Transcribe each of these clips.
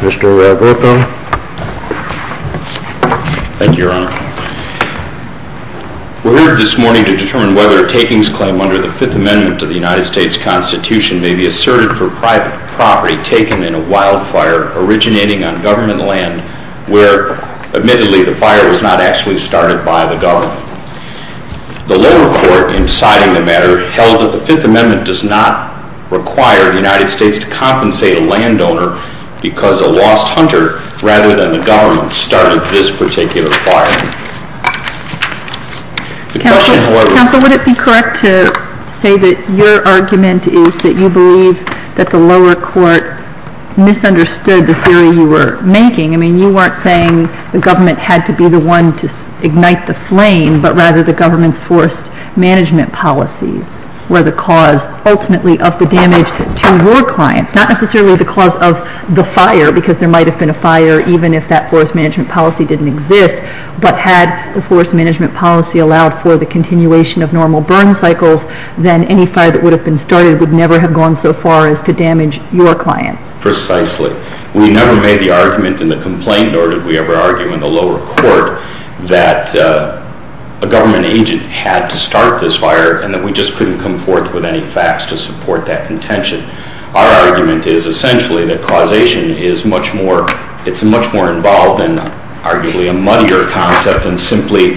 Mr. Roberto. Thank you, Your Honor. We're here this morning to determine whether a takings claim under the Fifth Amendment to the United States Constitution may be asserted for private property taken in a wildfire originating on government land where, admittedly, the fire was not actually started by the government. The lower court, in deciding the matter, held that the Fifth Amendment does not require the United States to compensate a landowner because a lost hunter, rather than the government, started this particular fire. Counsel, would it be correct to say that your argument is that you believe that the lower court misunderstood the theory you were making? I mean, you weren't saying the government had to be the one to ignite the flame, but rather the government's forest management policies were the cause, ultimately, of the damage to your clients. It's not necessarily the cause of the fire, because there might have been a fire even if that forest management policy didn't exist. But had the forest management policy allowed for the continuation of normal burn cycles, then any fire that would have been started would never have gone so far as to damage your clients. Precisely. We never made the argument in the complaint, nor did we ever argue in the lower court, that a government agent had to start this fire and that we just couldn't come forth with any facts to support that contention. Our argument is essentially that causation is much more involved in arguably a muddier concept than simply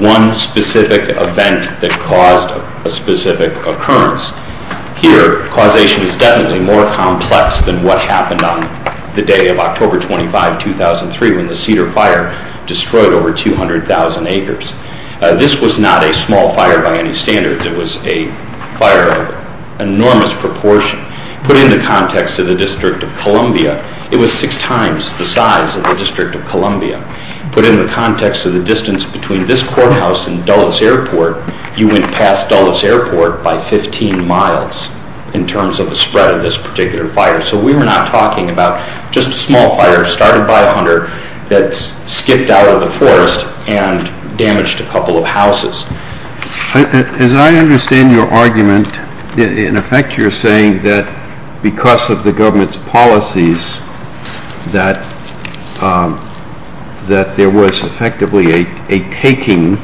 one specific event that caused a specific occurrence. Here, causation is definitely more complex than what happened on the day of October 25, 2003, when the Cedar Fire destroyed over 200,000 acres. This was not a small fire by any standards. It was a fire of enormous proportion. Put in the context of the District of Columbia, it was six times the size of the District of Columbia. Put in the context of the distance between this courthouse and Dulles Airport, you went past Dulles Airport by 15 miles in terms of the spread of this particular fire. So we were not talking about just a small fire started by a hunter that skipped out of the forest and damaged a couple of houses. As I understand your argument, in effect you're saying that because of the government's policies that there was effectively a taking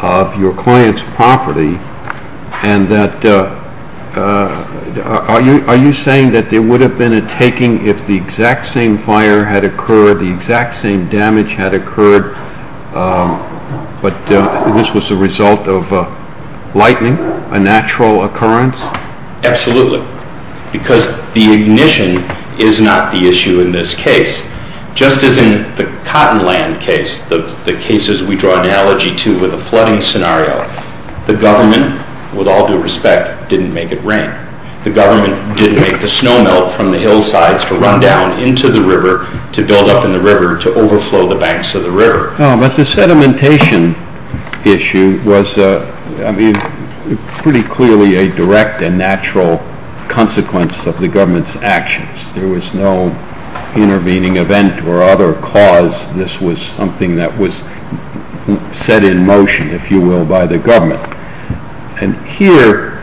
of your client's property. Are you saying that there would have been a taking if the exact same fire had occurred, the exact same damage had occurred, but this was the result of lightning, a natural occurrence? Absolutely, because the ignition is not the issue in this case. Just as in the Cottonland case, the cases we draw analogy to with a flooding scenario, the government, with all due respect, didn't make it rain. The government didn't make the snow melt from the hillsides to run down into the river to build up in the river to overflow the banks of the river. But the sedimentation issue was pretty clearly a direct and natural consequence of the government's actions. There was no intervening event or other cause. This was something that was set in motion, if you will, by the government. Here,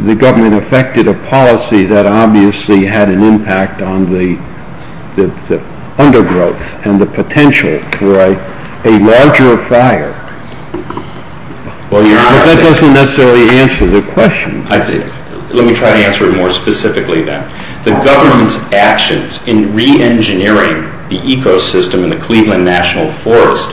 the government effected a policy that obviously had an impact on the undergrowth and the potential for a larger fire. But that doesn't necessarily answer the question. Let me try to answer it more specifically then. The government's actions in re-engineering the ecosystem in the Cleveland National Forest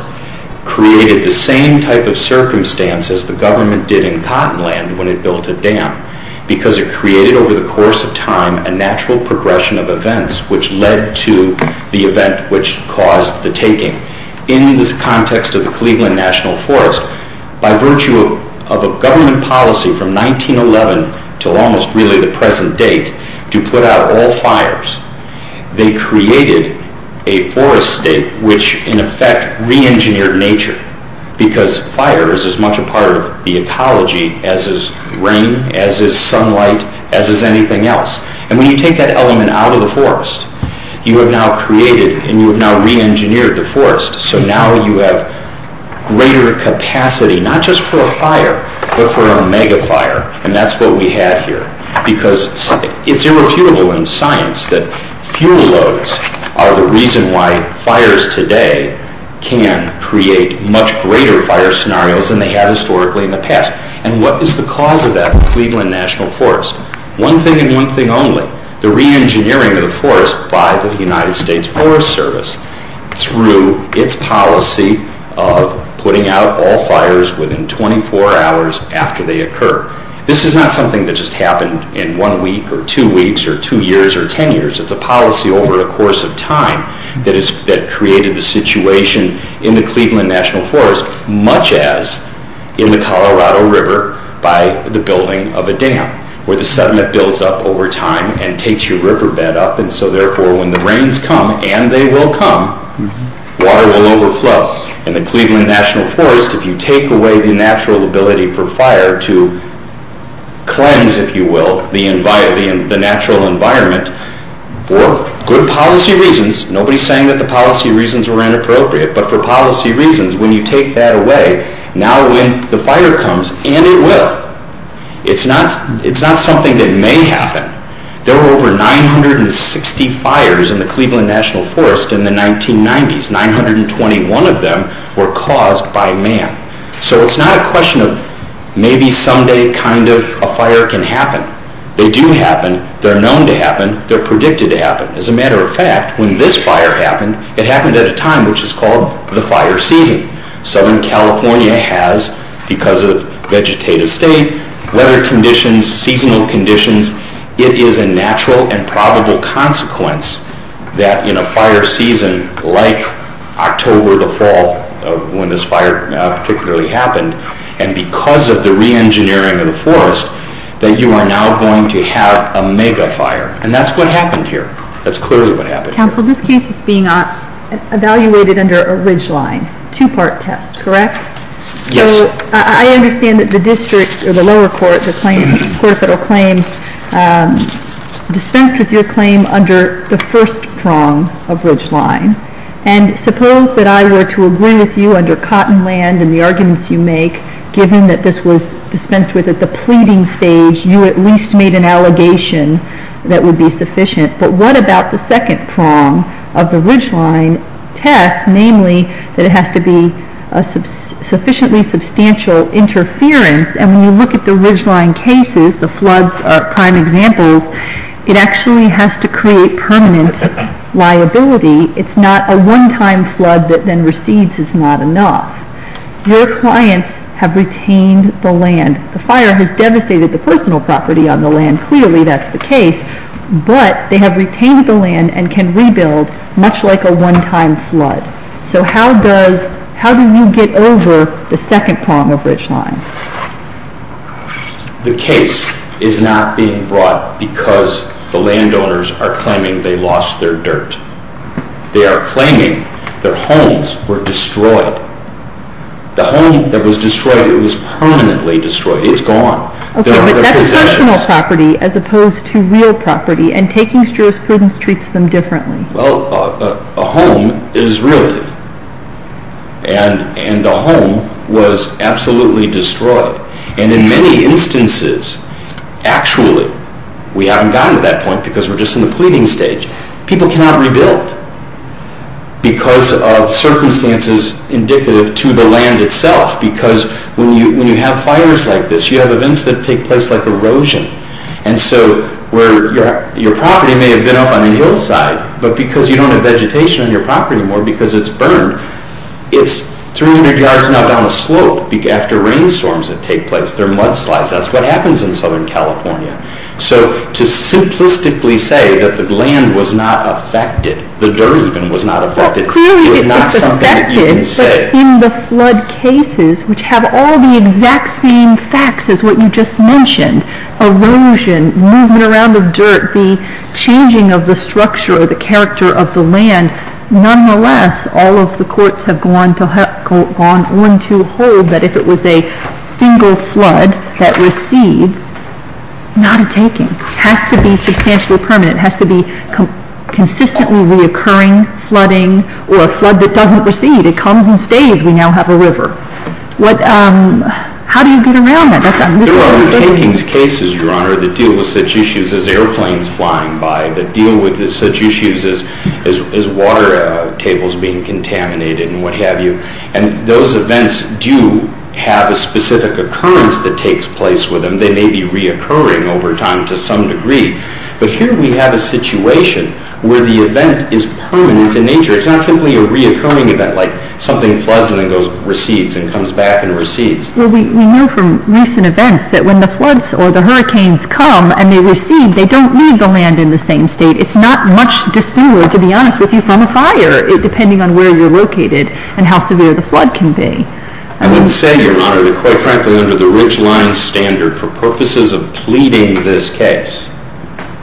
created the same type of circumstance as the government did in Cottonland when it built a dam. Because it created, over the course of time, a natural progression of events which led to the event which caused the taking. In the context of the Cleveland National Forest, by virtue of a government policy from 1911 to almost really the present date to put out all fires, they created a forest state which, in effect, re-engineered nature. Because fire is as much a part of the ecology as is rain, as is sunlight, as is anything else. And when you take that element out of the forest, you have now created and you have now re-engineered the forest. So now you have greater capacity, not just for a fire, but for a megafire. And that's what we have here. Because it's irrefutable in science that fuel loads are the reason why fires today can create much greater fire scenarios than they have historically in the past. And what is the cause of that in the Cleveland National Forest? One thing and one thing only. The re-engineering of the forest by the United States Forest Service through its policy of putting out all fires within 24 hours after they occur. This is not something that just happened in one week or two weeks or two years or ten years. It's a policy over the course of time that created the situation in the Cleveland National Forest, much as in the Colorado River by the building of a dam where the sediment builds up over time and takes your riverbed up. And so therefore when the rains come, and they will come, water will overflow. In the Cleveland National Forest, if you take away the natural ability for fire to cleanse, if you will, the natural environment for good policy reasons, nobody's saying that the policy reasons were inappropriate, but for policy reasons, when you take that away, now when the fire comes, and it will, it's not something that may happen. There were over 960 fires in the Cleveland National Forest in the 1990s. 921 of them were caused by man. So it's not a question of maybe someday kind of a fire can happen. They do happen. They're known to happen. They're predicted to happen. As a matter of fact, when this fire happened, it happened at a time which is called the fire season. Southern California has, because of vegetative state, weather conditions, seasonal conditions, it is a natural and probable consequence that in a fire season like October the fall, when this fire particularly happened, and because of the reengineering of the forest, that you are now going to have a megafire. And that's what happened here. That's clearly what happened here. Counsel, this case is being evaluated under a ridgeline, two-part test, correct? Yes. So I understand that the district or the lower court, the court of federal claims, dispensed with your claim under the first prong of ridgeline. And suppose that I were to agree with you under Cottonland and the arguments you make, given that this was dispensed with at the pleading stage, you at least made an allegation that would be sufficient. But what about the second prong of the ridgeline test, namely that it has to be sufficiently substantial interference? And when you look at the ridgeline cases, the floods are prime examples, it actually has to create permanent liability. It's not a one-time flood that then recedes is not enough. Your clients have retained the land. The fire has devastated the personal property on the land, clearly that's the case, but they have retained the land and can rebuild much like a one-time flood. So how do you get over the second prong of ridgeline? The case is not being brought because the landowners are claiming they lost their dirt. They are claiming their homes were destroyed. The home that was destroyed, it was permanently destroyed. It's gone. Okay, but that's personal property as opposed to real property, and taking jurisprudence treats them differently. Well, a home is realty, and the home was absolutely destroyed. And in many instances, actually, we haven't gotten to that point because we're just in the pleading stage, people cannot rebuild because of circumstances indicative to the land itself. Because when you have fires like this, you have events that take place like erosion. And so where your property may have been up on a hillside, but because you don't have vegetation on your property anymore because it's burned, it's 300 yards now down the slope after rainstorms that take place, there are mudslides. That's what happens in Southern California. So to simplistically say that the land was not affected, the dirt even was not affected, is not something that you can say. Well, clearly it's affected, but in the flood cases, which have all the exact same facts as what you just mentioned, erosion, movement around of dirt, the changing of the structure or the character of the land, nonetheless, all of the courts have gone on to hold that if it was a single flood that recedes, not a taking. It has to be substantially permanent. It has to be consistently reoccurring flooding or a flood that doesn't recede. It comes and stays. We now have a river. How do you get around that? Well, we're taking cases, Your Honor, that deal with such issues as airplanes flying by, that deal with such issues as water tables being contaminated and what have you. And those events do have a specific occurrence that takes place with them. They may be reoccurring over time to some degree. But here we have a situation where the event is permanent in nature. It's not simply a reoccurring event like something floods and then recedes and comes back and recedes. Well, we know from recent events that when the floods or the hurricanes come and they recede, they don't leave the land in the same state. It's not much dissimilar, to be honest with you, from a fire, depending on where you're located and how severe the flood can be. I would say, Your Honor, that quite frankly under the Ridgeline Standard, for purposes of pleading this case,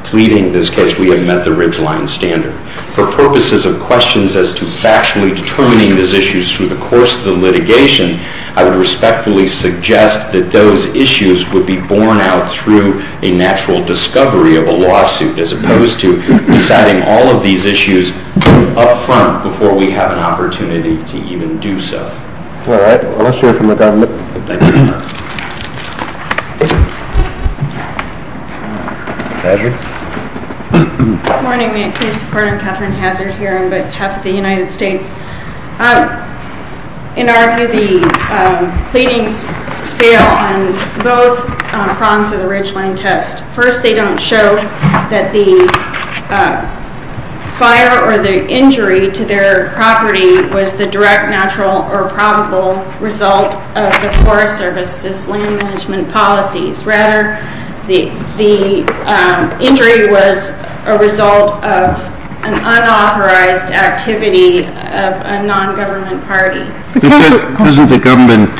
pleading this case, we have met the Ridgeline Standard. For purposes of questions as to factually determining these issues through the course of the litigation, I would respectfully suggest that those issues would be borne out through a natural discovery of a lawsuit as opposed to deciding all of these issues up front before we have an opportunity to even do so. All right. We'll let you hear from the government. Thank you, Your Honor. Hazard? Good morning. May it please the Court? I'm Katherine Hazard here. I'm with half of the United States. In our view, the pleadings fail on both prongs of the Ridgeline test. First, they don't show that the fire or the injury to their property was the direct, natural, or probable result of the Forest Service's land management policies. Rather, the injury was a result of an unauthorized activity of a nongovernment party. Doesn't the government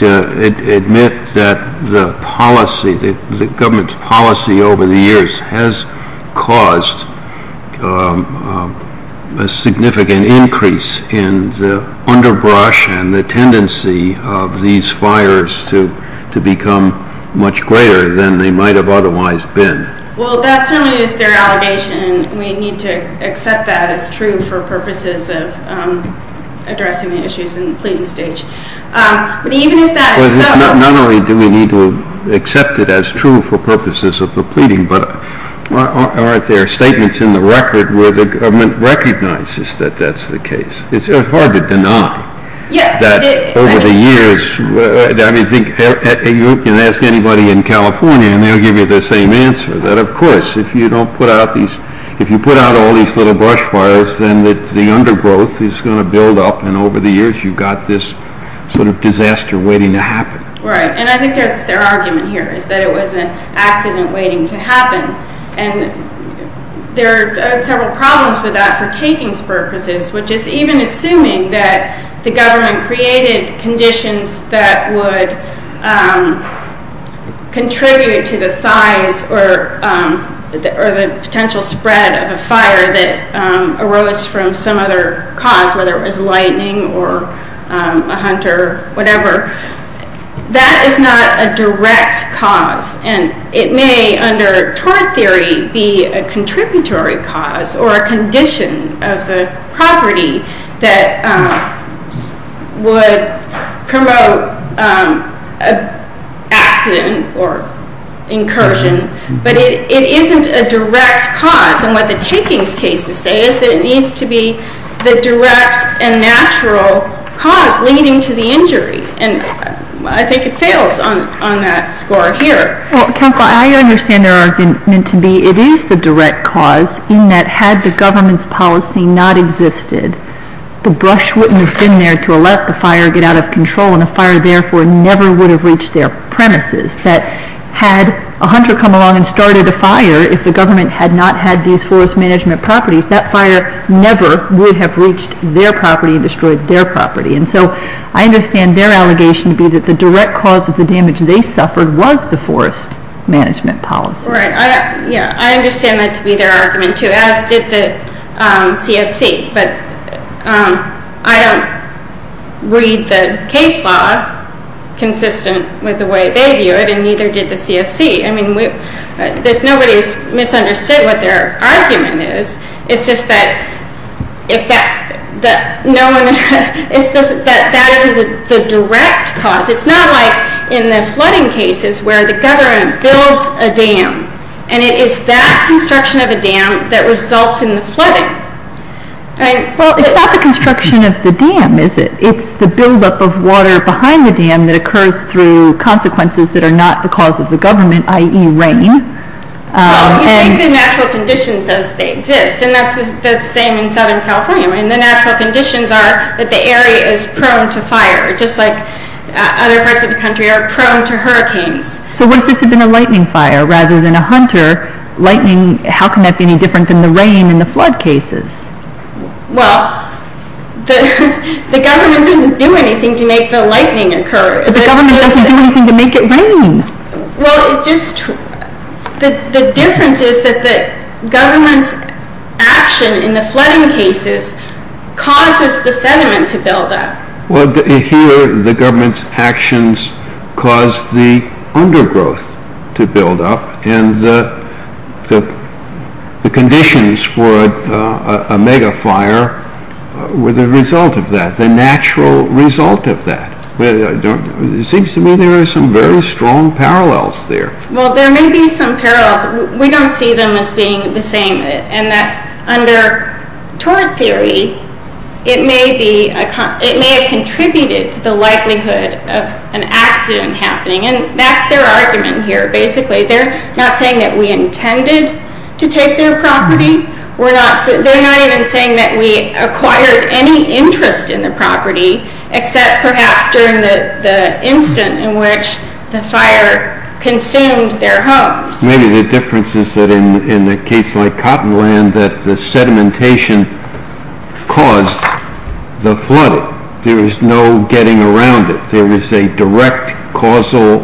admit that the policy, the government's policy over the years, has caused a significant increase in the underbrush and the tendency of these fires to become much greater than they might have otherwise been? Well, that certainly is their allegation. We need to accept that as true for purposes of addressing the issues in the pleading stage. Not only do we need to accept it as true for purposes of the pleading, but aren't there statements in the record where the government recognizes that that's the case? It's hard to deny that over the years. You can ask anybody in California and they'll give you the same answer, that, of course, if you don't put out these, if you put out all these little brush fires, then the undergrowth is going to build up and over the years you've got this sort of disaster waiting to happen. Right, and I think that's their argument here, is that it was an accident waiting to happen. And there are several problems with that for takings purposes, which is even assuming that the government created conditions that would contribute to the size or the potential spread of a fire that arose from some other cause, whether it was lightning or a hunter, whatever, that is not a direct cause. And it may, under tort theory, be a contributory cause or a condition of the property that would promote an accident or incursion, but it isn't a direct cause. And what the takings cases say is that it needs to be the direct and natural cause leading to the injury. And I think it fails on that score here. Well, Counselor, I understand their argument to be it is the direct cause, in that had the government's policy not existed, the brush wouldn't have been there to let the fire get out of control and the fire, therefore, never would have reached their premises. That had a hunter come along and started a fire, if the government had not had these forest management properties, that fire never would have reached their property and destroyed their property. And so I understand their allegation to be that the direct cause of the damage they suffered was the forest management policy. Right. I understand that to be their argument, too, as did the CFC. But I don't read the case law consistent with the way they view it, and neither did the CFC. I mean, nobody has misunderstood what their argument is. It's just that that is the direct cause. It's not like in the flooding cases where the government builds a dam, and it is that construction of a dam that results in the flooding. Well, it's not the construction of the dam, is it? It's the buildup of water behind the dam that occurs through consequences that are not the cause of the government, i.e. rain. Well, you take the natural conditions as they exist, and that's the same in Southern California. The natural conditions are that the area is prone to fire, just like other parts of the country are prone to hurricanes. So what if this had been a lightning fire rather than a hunter? Lightning, how can that be any different than the rain in the flood cases? Well, the government didn't do anything to make the lightning occur. But the government doesn't do anything to make it rain. Well, the difference is that the government's action in the flooding cases causes the sediment to build up. Well, here the government's actions cause the undergrowth to build up, and the conditions for a megafire were the result of that, the natural result of that. It seems to me there are some very strong parallels there. Well, there may be some parallels. We don't see them as being the same, and that under tort theory, it may have contributed to the likelihood of an accident happening, and that's their argument here, basically. They're not saying that we intended to take their property. They're not even saying that we acquired any interest in the property, except perhaps during the instant in which the fire consumed their homes. Maybe the difference is that in a case like Cottonland, that the sedimentation caused the flooding. There was no getting around it. There was a direct, causal,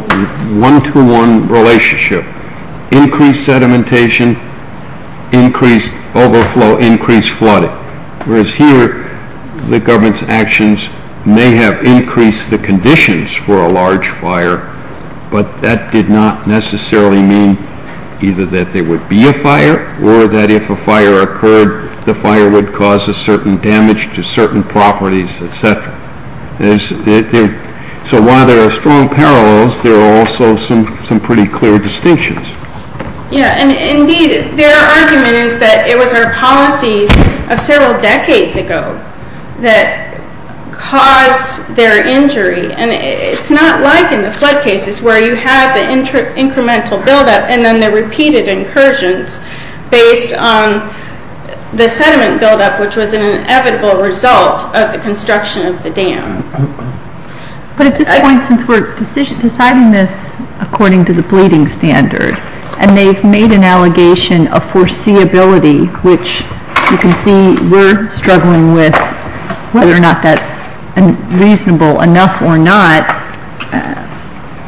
one-to-one relationship. Increased sedimentation, increased overflow, increased flooding. Whereas here, the government's actions may have increased the conditions for a large fire, but that did not necessarily mean either that there would be a fire, or that if a fire occurred, the fire would cause a certain damage to certain properties, etc. So while there are strong parallels, there are also some pretty clear distinctions. Indeed, their argument is that it was our policies of several decades ago that caused their injury, and it's not like in the flood cases where you have the incremental buildup, and then the repeated incursions based on the sediment buildup, which was an inevitable result of the construction of the dam. But at this point, since we're deciding this according to the bleeding standard, and they've made an allegation of foreseeability, which you can see we're struggling with whether or not that's reasonable enough or not,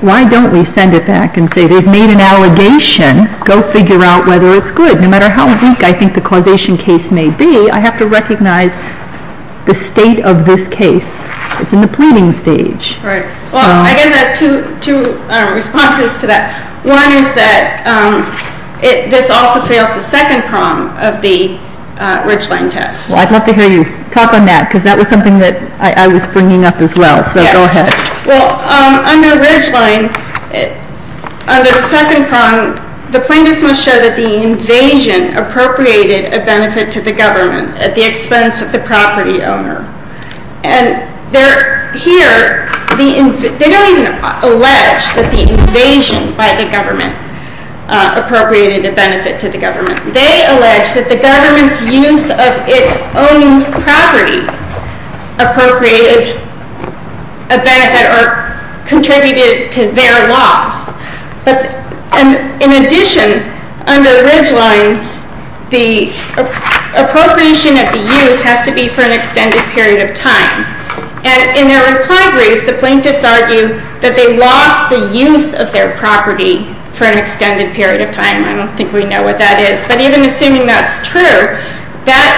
why don't we send it back and say they've made an allegation, go figure out whether it's good. No matter how weak I think the causation case may be, I have to recognize the state of this case. It's in the planning stage. Right. Well, I guess I have two responses to that. One is that this also fails the second prong of the Ridgeline test. Well, I'd love to hear you talk on that, because that was something that I was bringing up as well. So go ahead. Well, on the Ridgeline, under the second prong, the plaintiffs must show that the invasion appropriated a benefit to the government at the expense of the property owner. And here, they don't even allege that the invasion by the government appropriated a benefit to the government. They allege that the government's use of its own property appropriated a benefit or contributed to their loss. But in addition, under the Ridgeline, the appropriation of the use has to be for an extended period of time. And in their reply brief, the plaintiffs argue that they lost the use of their property for an extended period of time. I don't think we know what that is. But even assuming that's true, that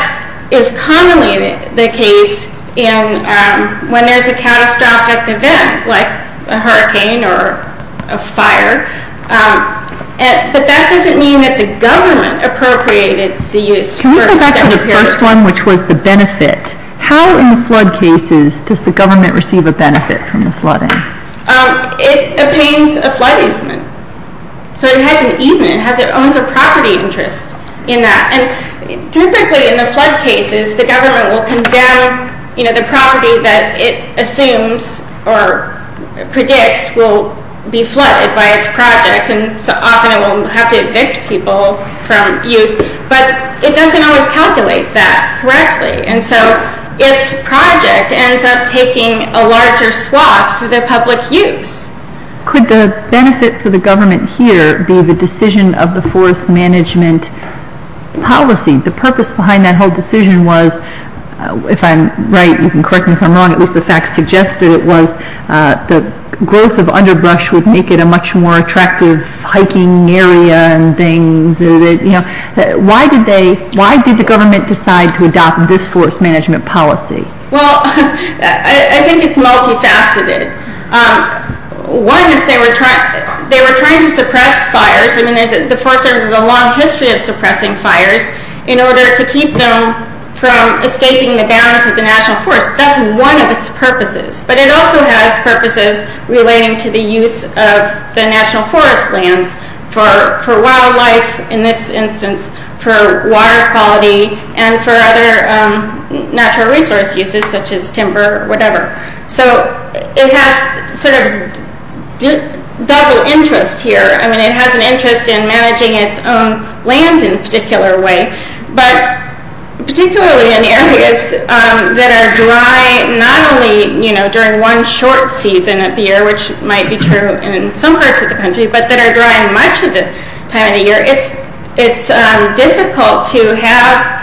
is commonly the case when there's a catastrophic event, like a hurricane or a fire. But that doesn't mean that the government appropriated the use for an extended period of time. Can I go back to the first one, which was the benefit? How in flood cases does the government receive a benefit from the flooding? It obtains a flood easement. So it has an easement. It owns a property interest in that. And typically, in the flood cases, the government will condemn the property that it assumes or predicts will be flooded by its project. And so often, it will have to evict people from use. But it doesn't always calculate that correctly. And so its project ends up taking a larger swath for the public use. Could the benefit for the government here be the decision of the forest management policy? The purpose behind that whole decision was, if I'm right, you can correct me if I'm wrong, it was the fact suggested it was the growth of underbrush would make it a much more attractive hiking area and things. Why did the government decide to adopt this forest management policy? Well, I think it's multifaceted. One is they were trying to suppress fires. I mean, the Forest Service has a long history of suppressing fires in order to keep them from escaping the bounds of the national forest. That's one of its purposes. But it also has purposes relating to the use of the national forest lands for wildlife, in this instance, for water quality, and for other natural resource uses, such as timber, whatever. So it has sort of double interest here. I mean, it has an interest in managing its own lands in a particular way, but particularly in areas that are dry not only during one short season of the year, which might be true in some parts of the country, but that are dry much of the time of year. It's difficult to have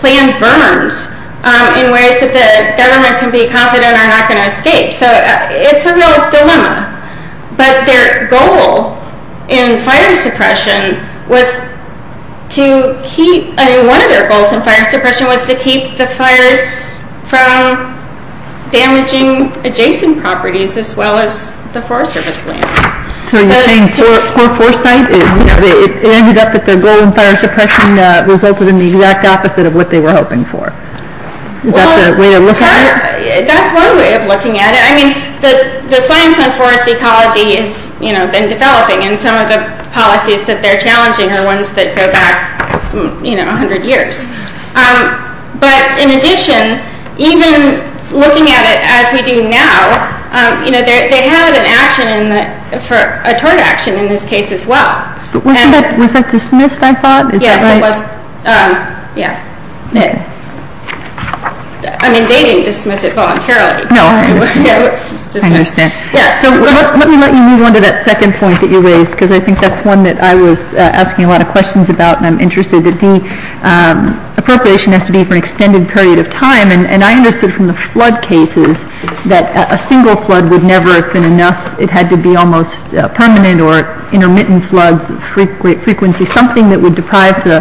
planned berms in ways that the government can be confident are not going to escape. So it's a real dilemma. But their goal in fire suppression was to keep, I mean, one of their goals in fire suppression was to keep the fires from damaging adjacent properties as well as the Forest Service lands. So you're saying for Forest Sight, it ended up that their goal in fire suppression was open to the exact opposite of what they were hoping for? Is that the way to look at it? That's one way of looking at it. I mean, the science on forest ecology has been developing, and some of the policies that they're challenging are ones that go back 100 years. But in addition, even looking at it as we do now, you know, they had an action for a tort action in this case as well. Was that dismissed, I thought? Yes, it was. Yeah. I mean, they didn't dismiss it voluntarily. No. It was dismissed. I understand. Yes. So let me let you move on to that second point that you raised, because I think that's one that I was asking a lot of questions about, and I'm interested that the appropriation has to be for an extended period of time. And I understood from the flood cases that a single flood would never have been enough. It had to be almost permanent or intermittent floods, frequency, something that would deprive the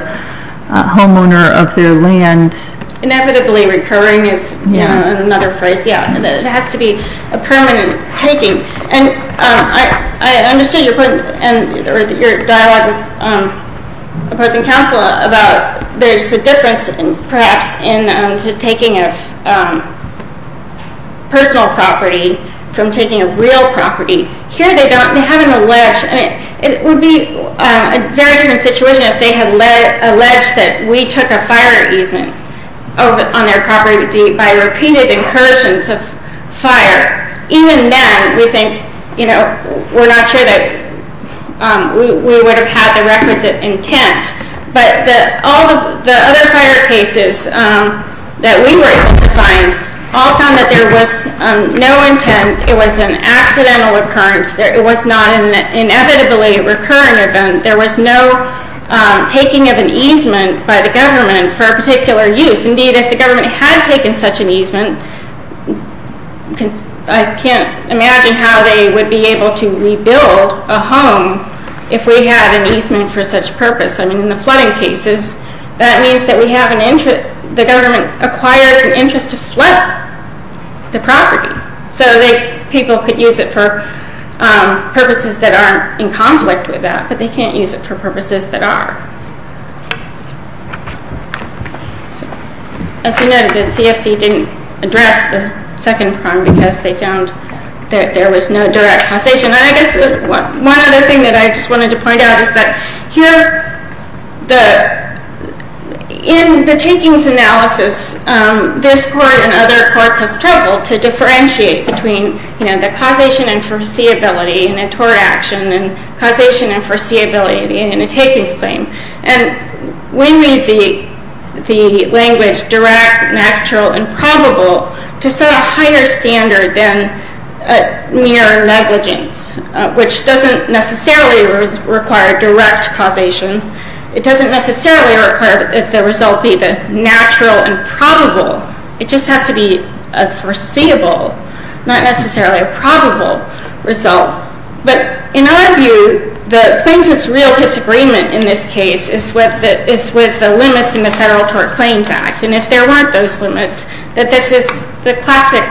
homeowner of their land. Inevitably recurring is another phrase. Yeah. It has to be a permanent taking. And I understood your point or your dialogue with opposing counsel about there's a difference, perhaps, in taking a personal property from taking a real property. Here they don't. They haven't alleged. It would be a very different situation if they had alleged that we took a fire easement on their property by repeated incursions of fire. Even then, we think, you know, we're not sure that we would have had the requisite intent. But all of the other fire cases that we were able to find all found that there was no intent. It was an accidental occurrence. It was not an inevitably recurring event. There was no taking of an easement by the government for a particular use. Indeed, if the government had taken such an easement, I can't imagine how they would be able to rebuild a home if we had an easement for such purpose. I mean, in the flooding cases, that means that the government acquires an interest to flood the property so that people could use it for purposes that aren't in conflict with that. But they can't use it for purposes that are. As you noted, the CFC didn't address the second crime because they found that there was no direct causation. And I guess one other thing that I just wanted to point out is that here, in the takings analysis, this court and other courts have struggled to differentiate between the causation and foreseeability in a tort action and causation and foreseeability in a takings claim. And we need the language direct, natural, and probable to set a higher standard than near negligence, which doesn't necessarily require direct causation. It doesn't necessarily require that the result be the natural and probable. It just has to be a foreseeable, not necessarily a probable result. But in our view, the plaintiff's real disagreement in this case is with the limits in the Federal Tort Claims Act. And if there weren't those limits, that this is the classic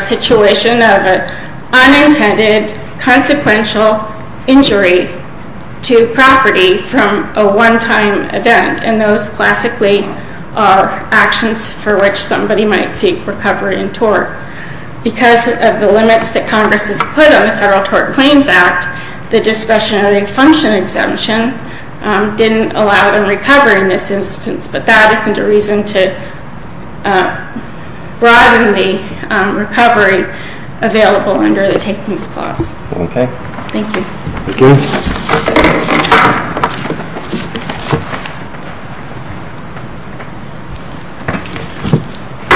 situation of an unintended, consequential injury to property from a one-time event. And those classically are actions for which somebody might seek recovery in tort. Because of the limits that Congress has put on the Federal Tort Claims Act, the discretionary function exemption didn't allow them recovery in this instance. But that isn't a reason to broaden the recovery available under the takings clause. Okay. Thank you. Thank you.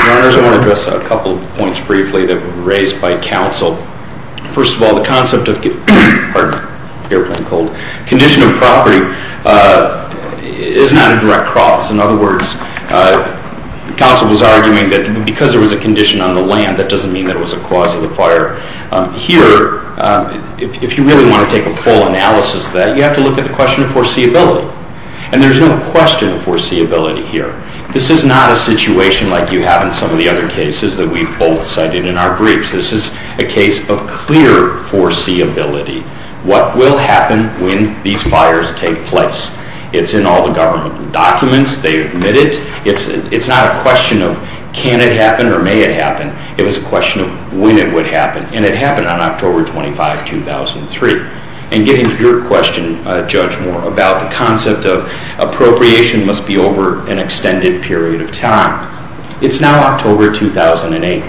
Your Honors, I want to address a couple of points briefly that were raised by counsel. First of all, the concept of condition of property is not a direct cause. In other words, counsel was arguing that because there was a condition on the land, that doesn't mean that it was a cause of the fire. Here, if you really want to take a full analysis of that, you have to look at the question of foreseeability. And there's no question of foreseeability here. This is not a situation like you have in some of the other cases that we've both cited in our briefs. This is a case of clear foreseeability. What will happen when these fires take place? It's in all the government documents. They admit it. It's not a question of can it happen or may it happen. It was a question of when it would happen. And it happened on October 25, 2003. And getting to your question, Judge Moore, about the concept of appropriation must be over an extended period of time. It's now October 2008.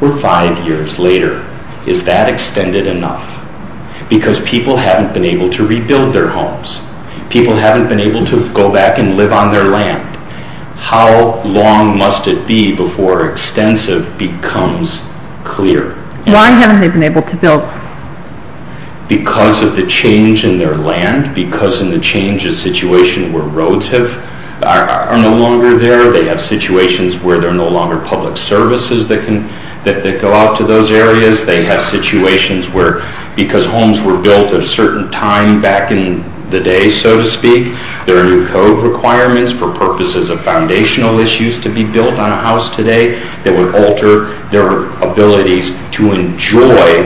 We're five years later. Is that extended enough? Because people haven't been able to rebuild their homes. People haven't been able to go back and live on their land. How long must it be before extensive becomes clear? Why haven't they been able to build? Because of the change in their land. Because of the change in the situation where roads are no longer there. They have situations where there are no longer public services that go out to those areas. They have situations where because homes were built at a certain time back in the day, so to speak, there are new code requirements for purposes of foundational issues to be built on a house today that would alter their abilities to enjoy.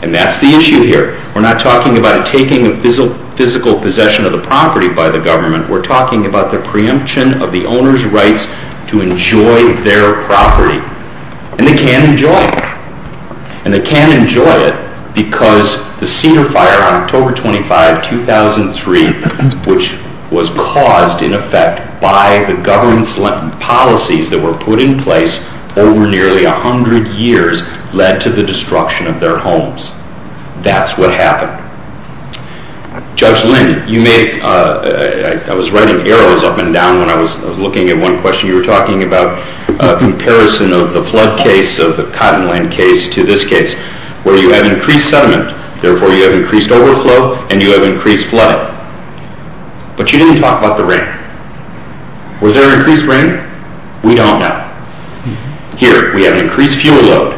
And that's the issue here. We're not talking about taking a physical possession of the property by the government. We're talking about the preemption of the owner's rights to enjoy their property. And they can enjoy it. And they can enjoy it because the Cedar Fire on October 25, 2003, which was caused, in effect, by the government's policies that were put in place over nearly 100 years, led to the destruction of their homes. That's what happened. Judge Lynn, I was writing arrows up and down when I was looking at one question you were talking about, a comparison of the flood case of the Cottonland case to this case, where you have increased sediment, therefore you have increased overflow, and you have increased flood. But you didn't talk about the rain. Was there increased rain? We don't know. Here, we have increased fuel load.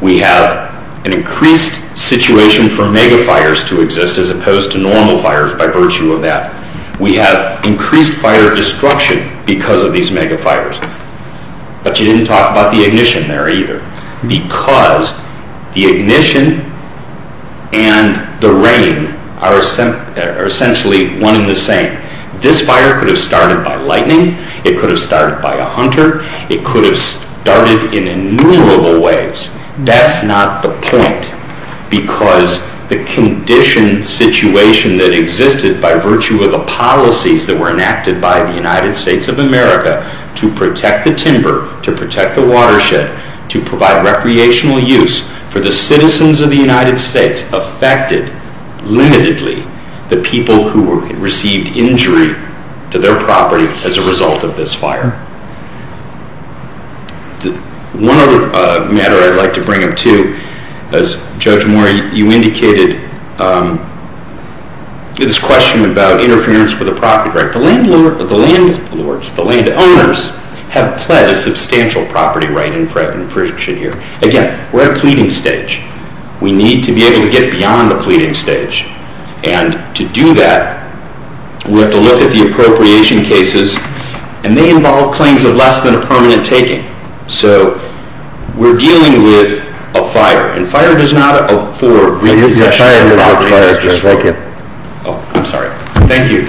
We have an increased situation for megafires to exist as opposed to normal fires by virtue of that. We have increased fire destruction because of these megafires. But you didn't talk about the ignition there either, because the ignition and the rain are essentially one and the same. This fire could have started by lightning. It could have started by a hunter. It could have started in innumerable ways. That's not the point, because the condition situation that existed by virtue of the policies that were enacted by the United States of America to protect the timber, to protect the watershed, to provide recreational use for the citizens of the United States affected, limitedly, the people who received injury to their property as a result of this fire. One other matter I'd like to bring up, too. As Judge Moore, you indicated this question about interference with the property. The landlords, the landowners, have pled a substantial property right in front of you. Again, we're at a pleading stage. We need to be able to get beyond the pleading stage. And to do that, we have to look at the appropriation cases, and they involve claims of less than a permanent taking. So we're dealing with a fire, and fire does not afford recession to a property that is destroyed. I'm sorry. Thank you. The case is submitted.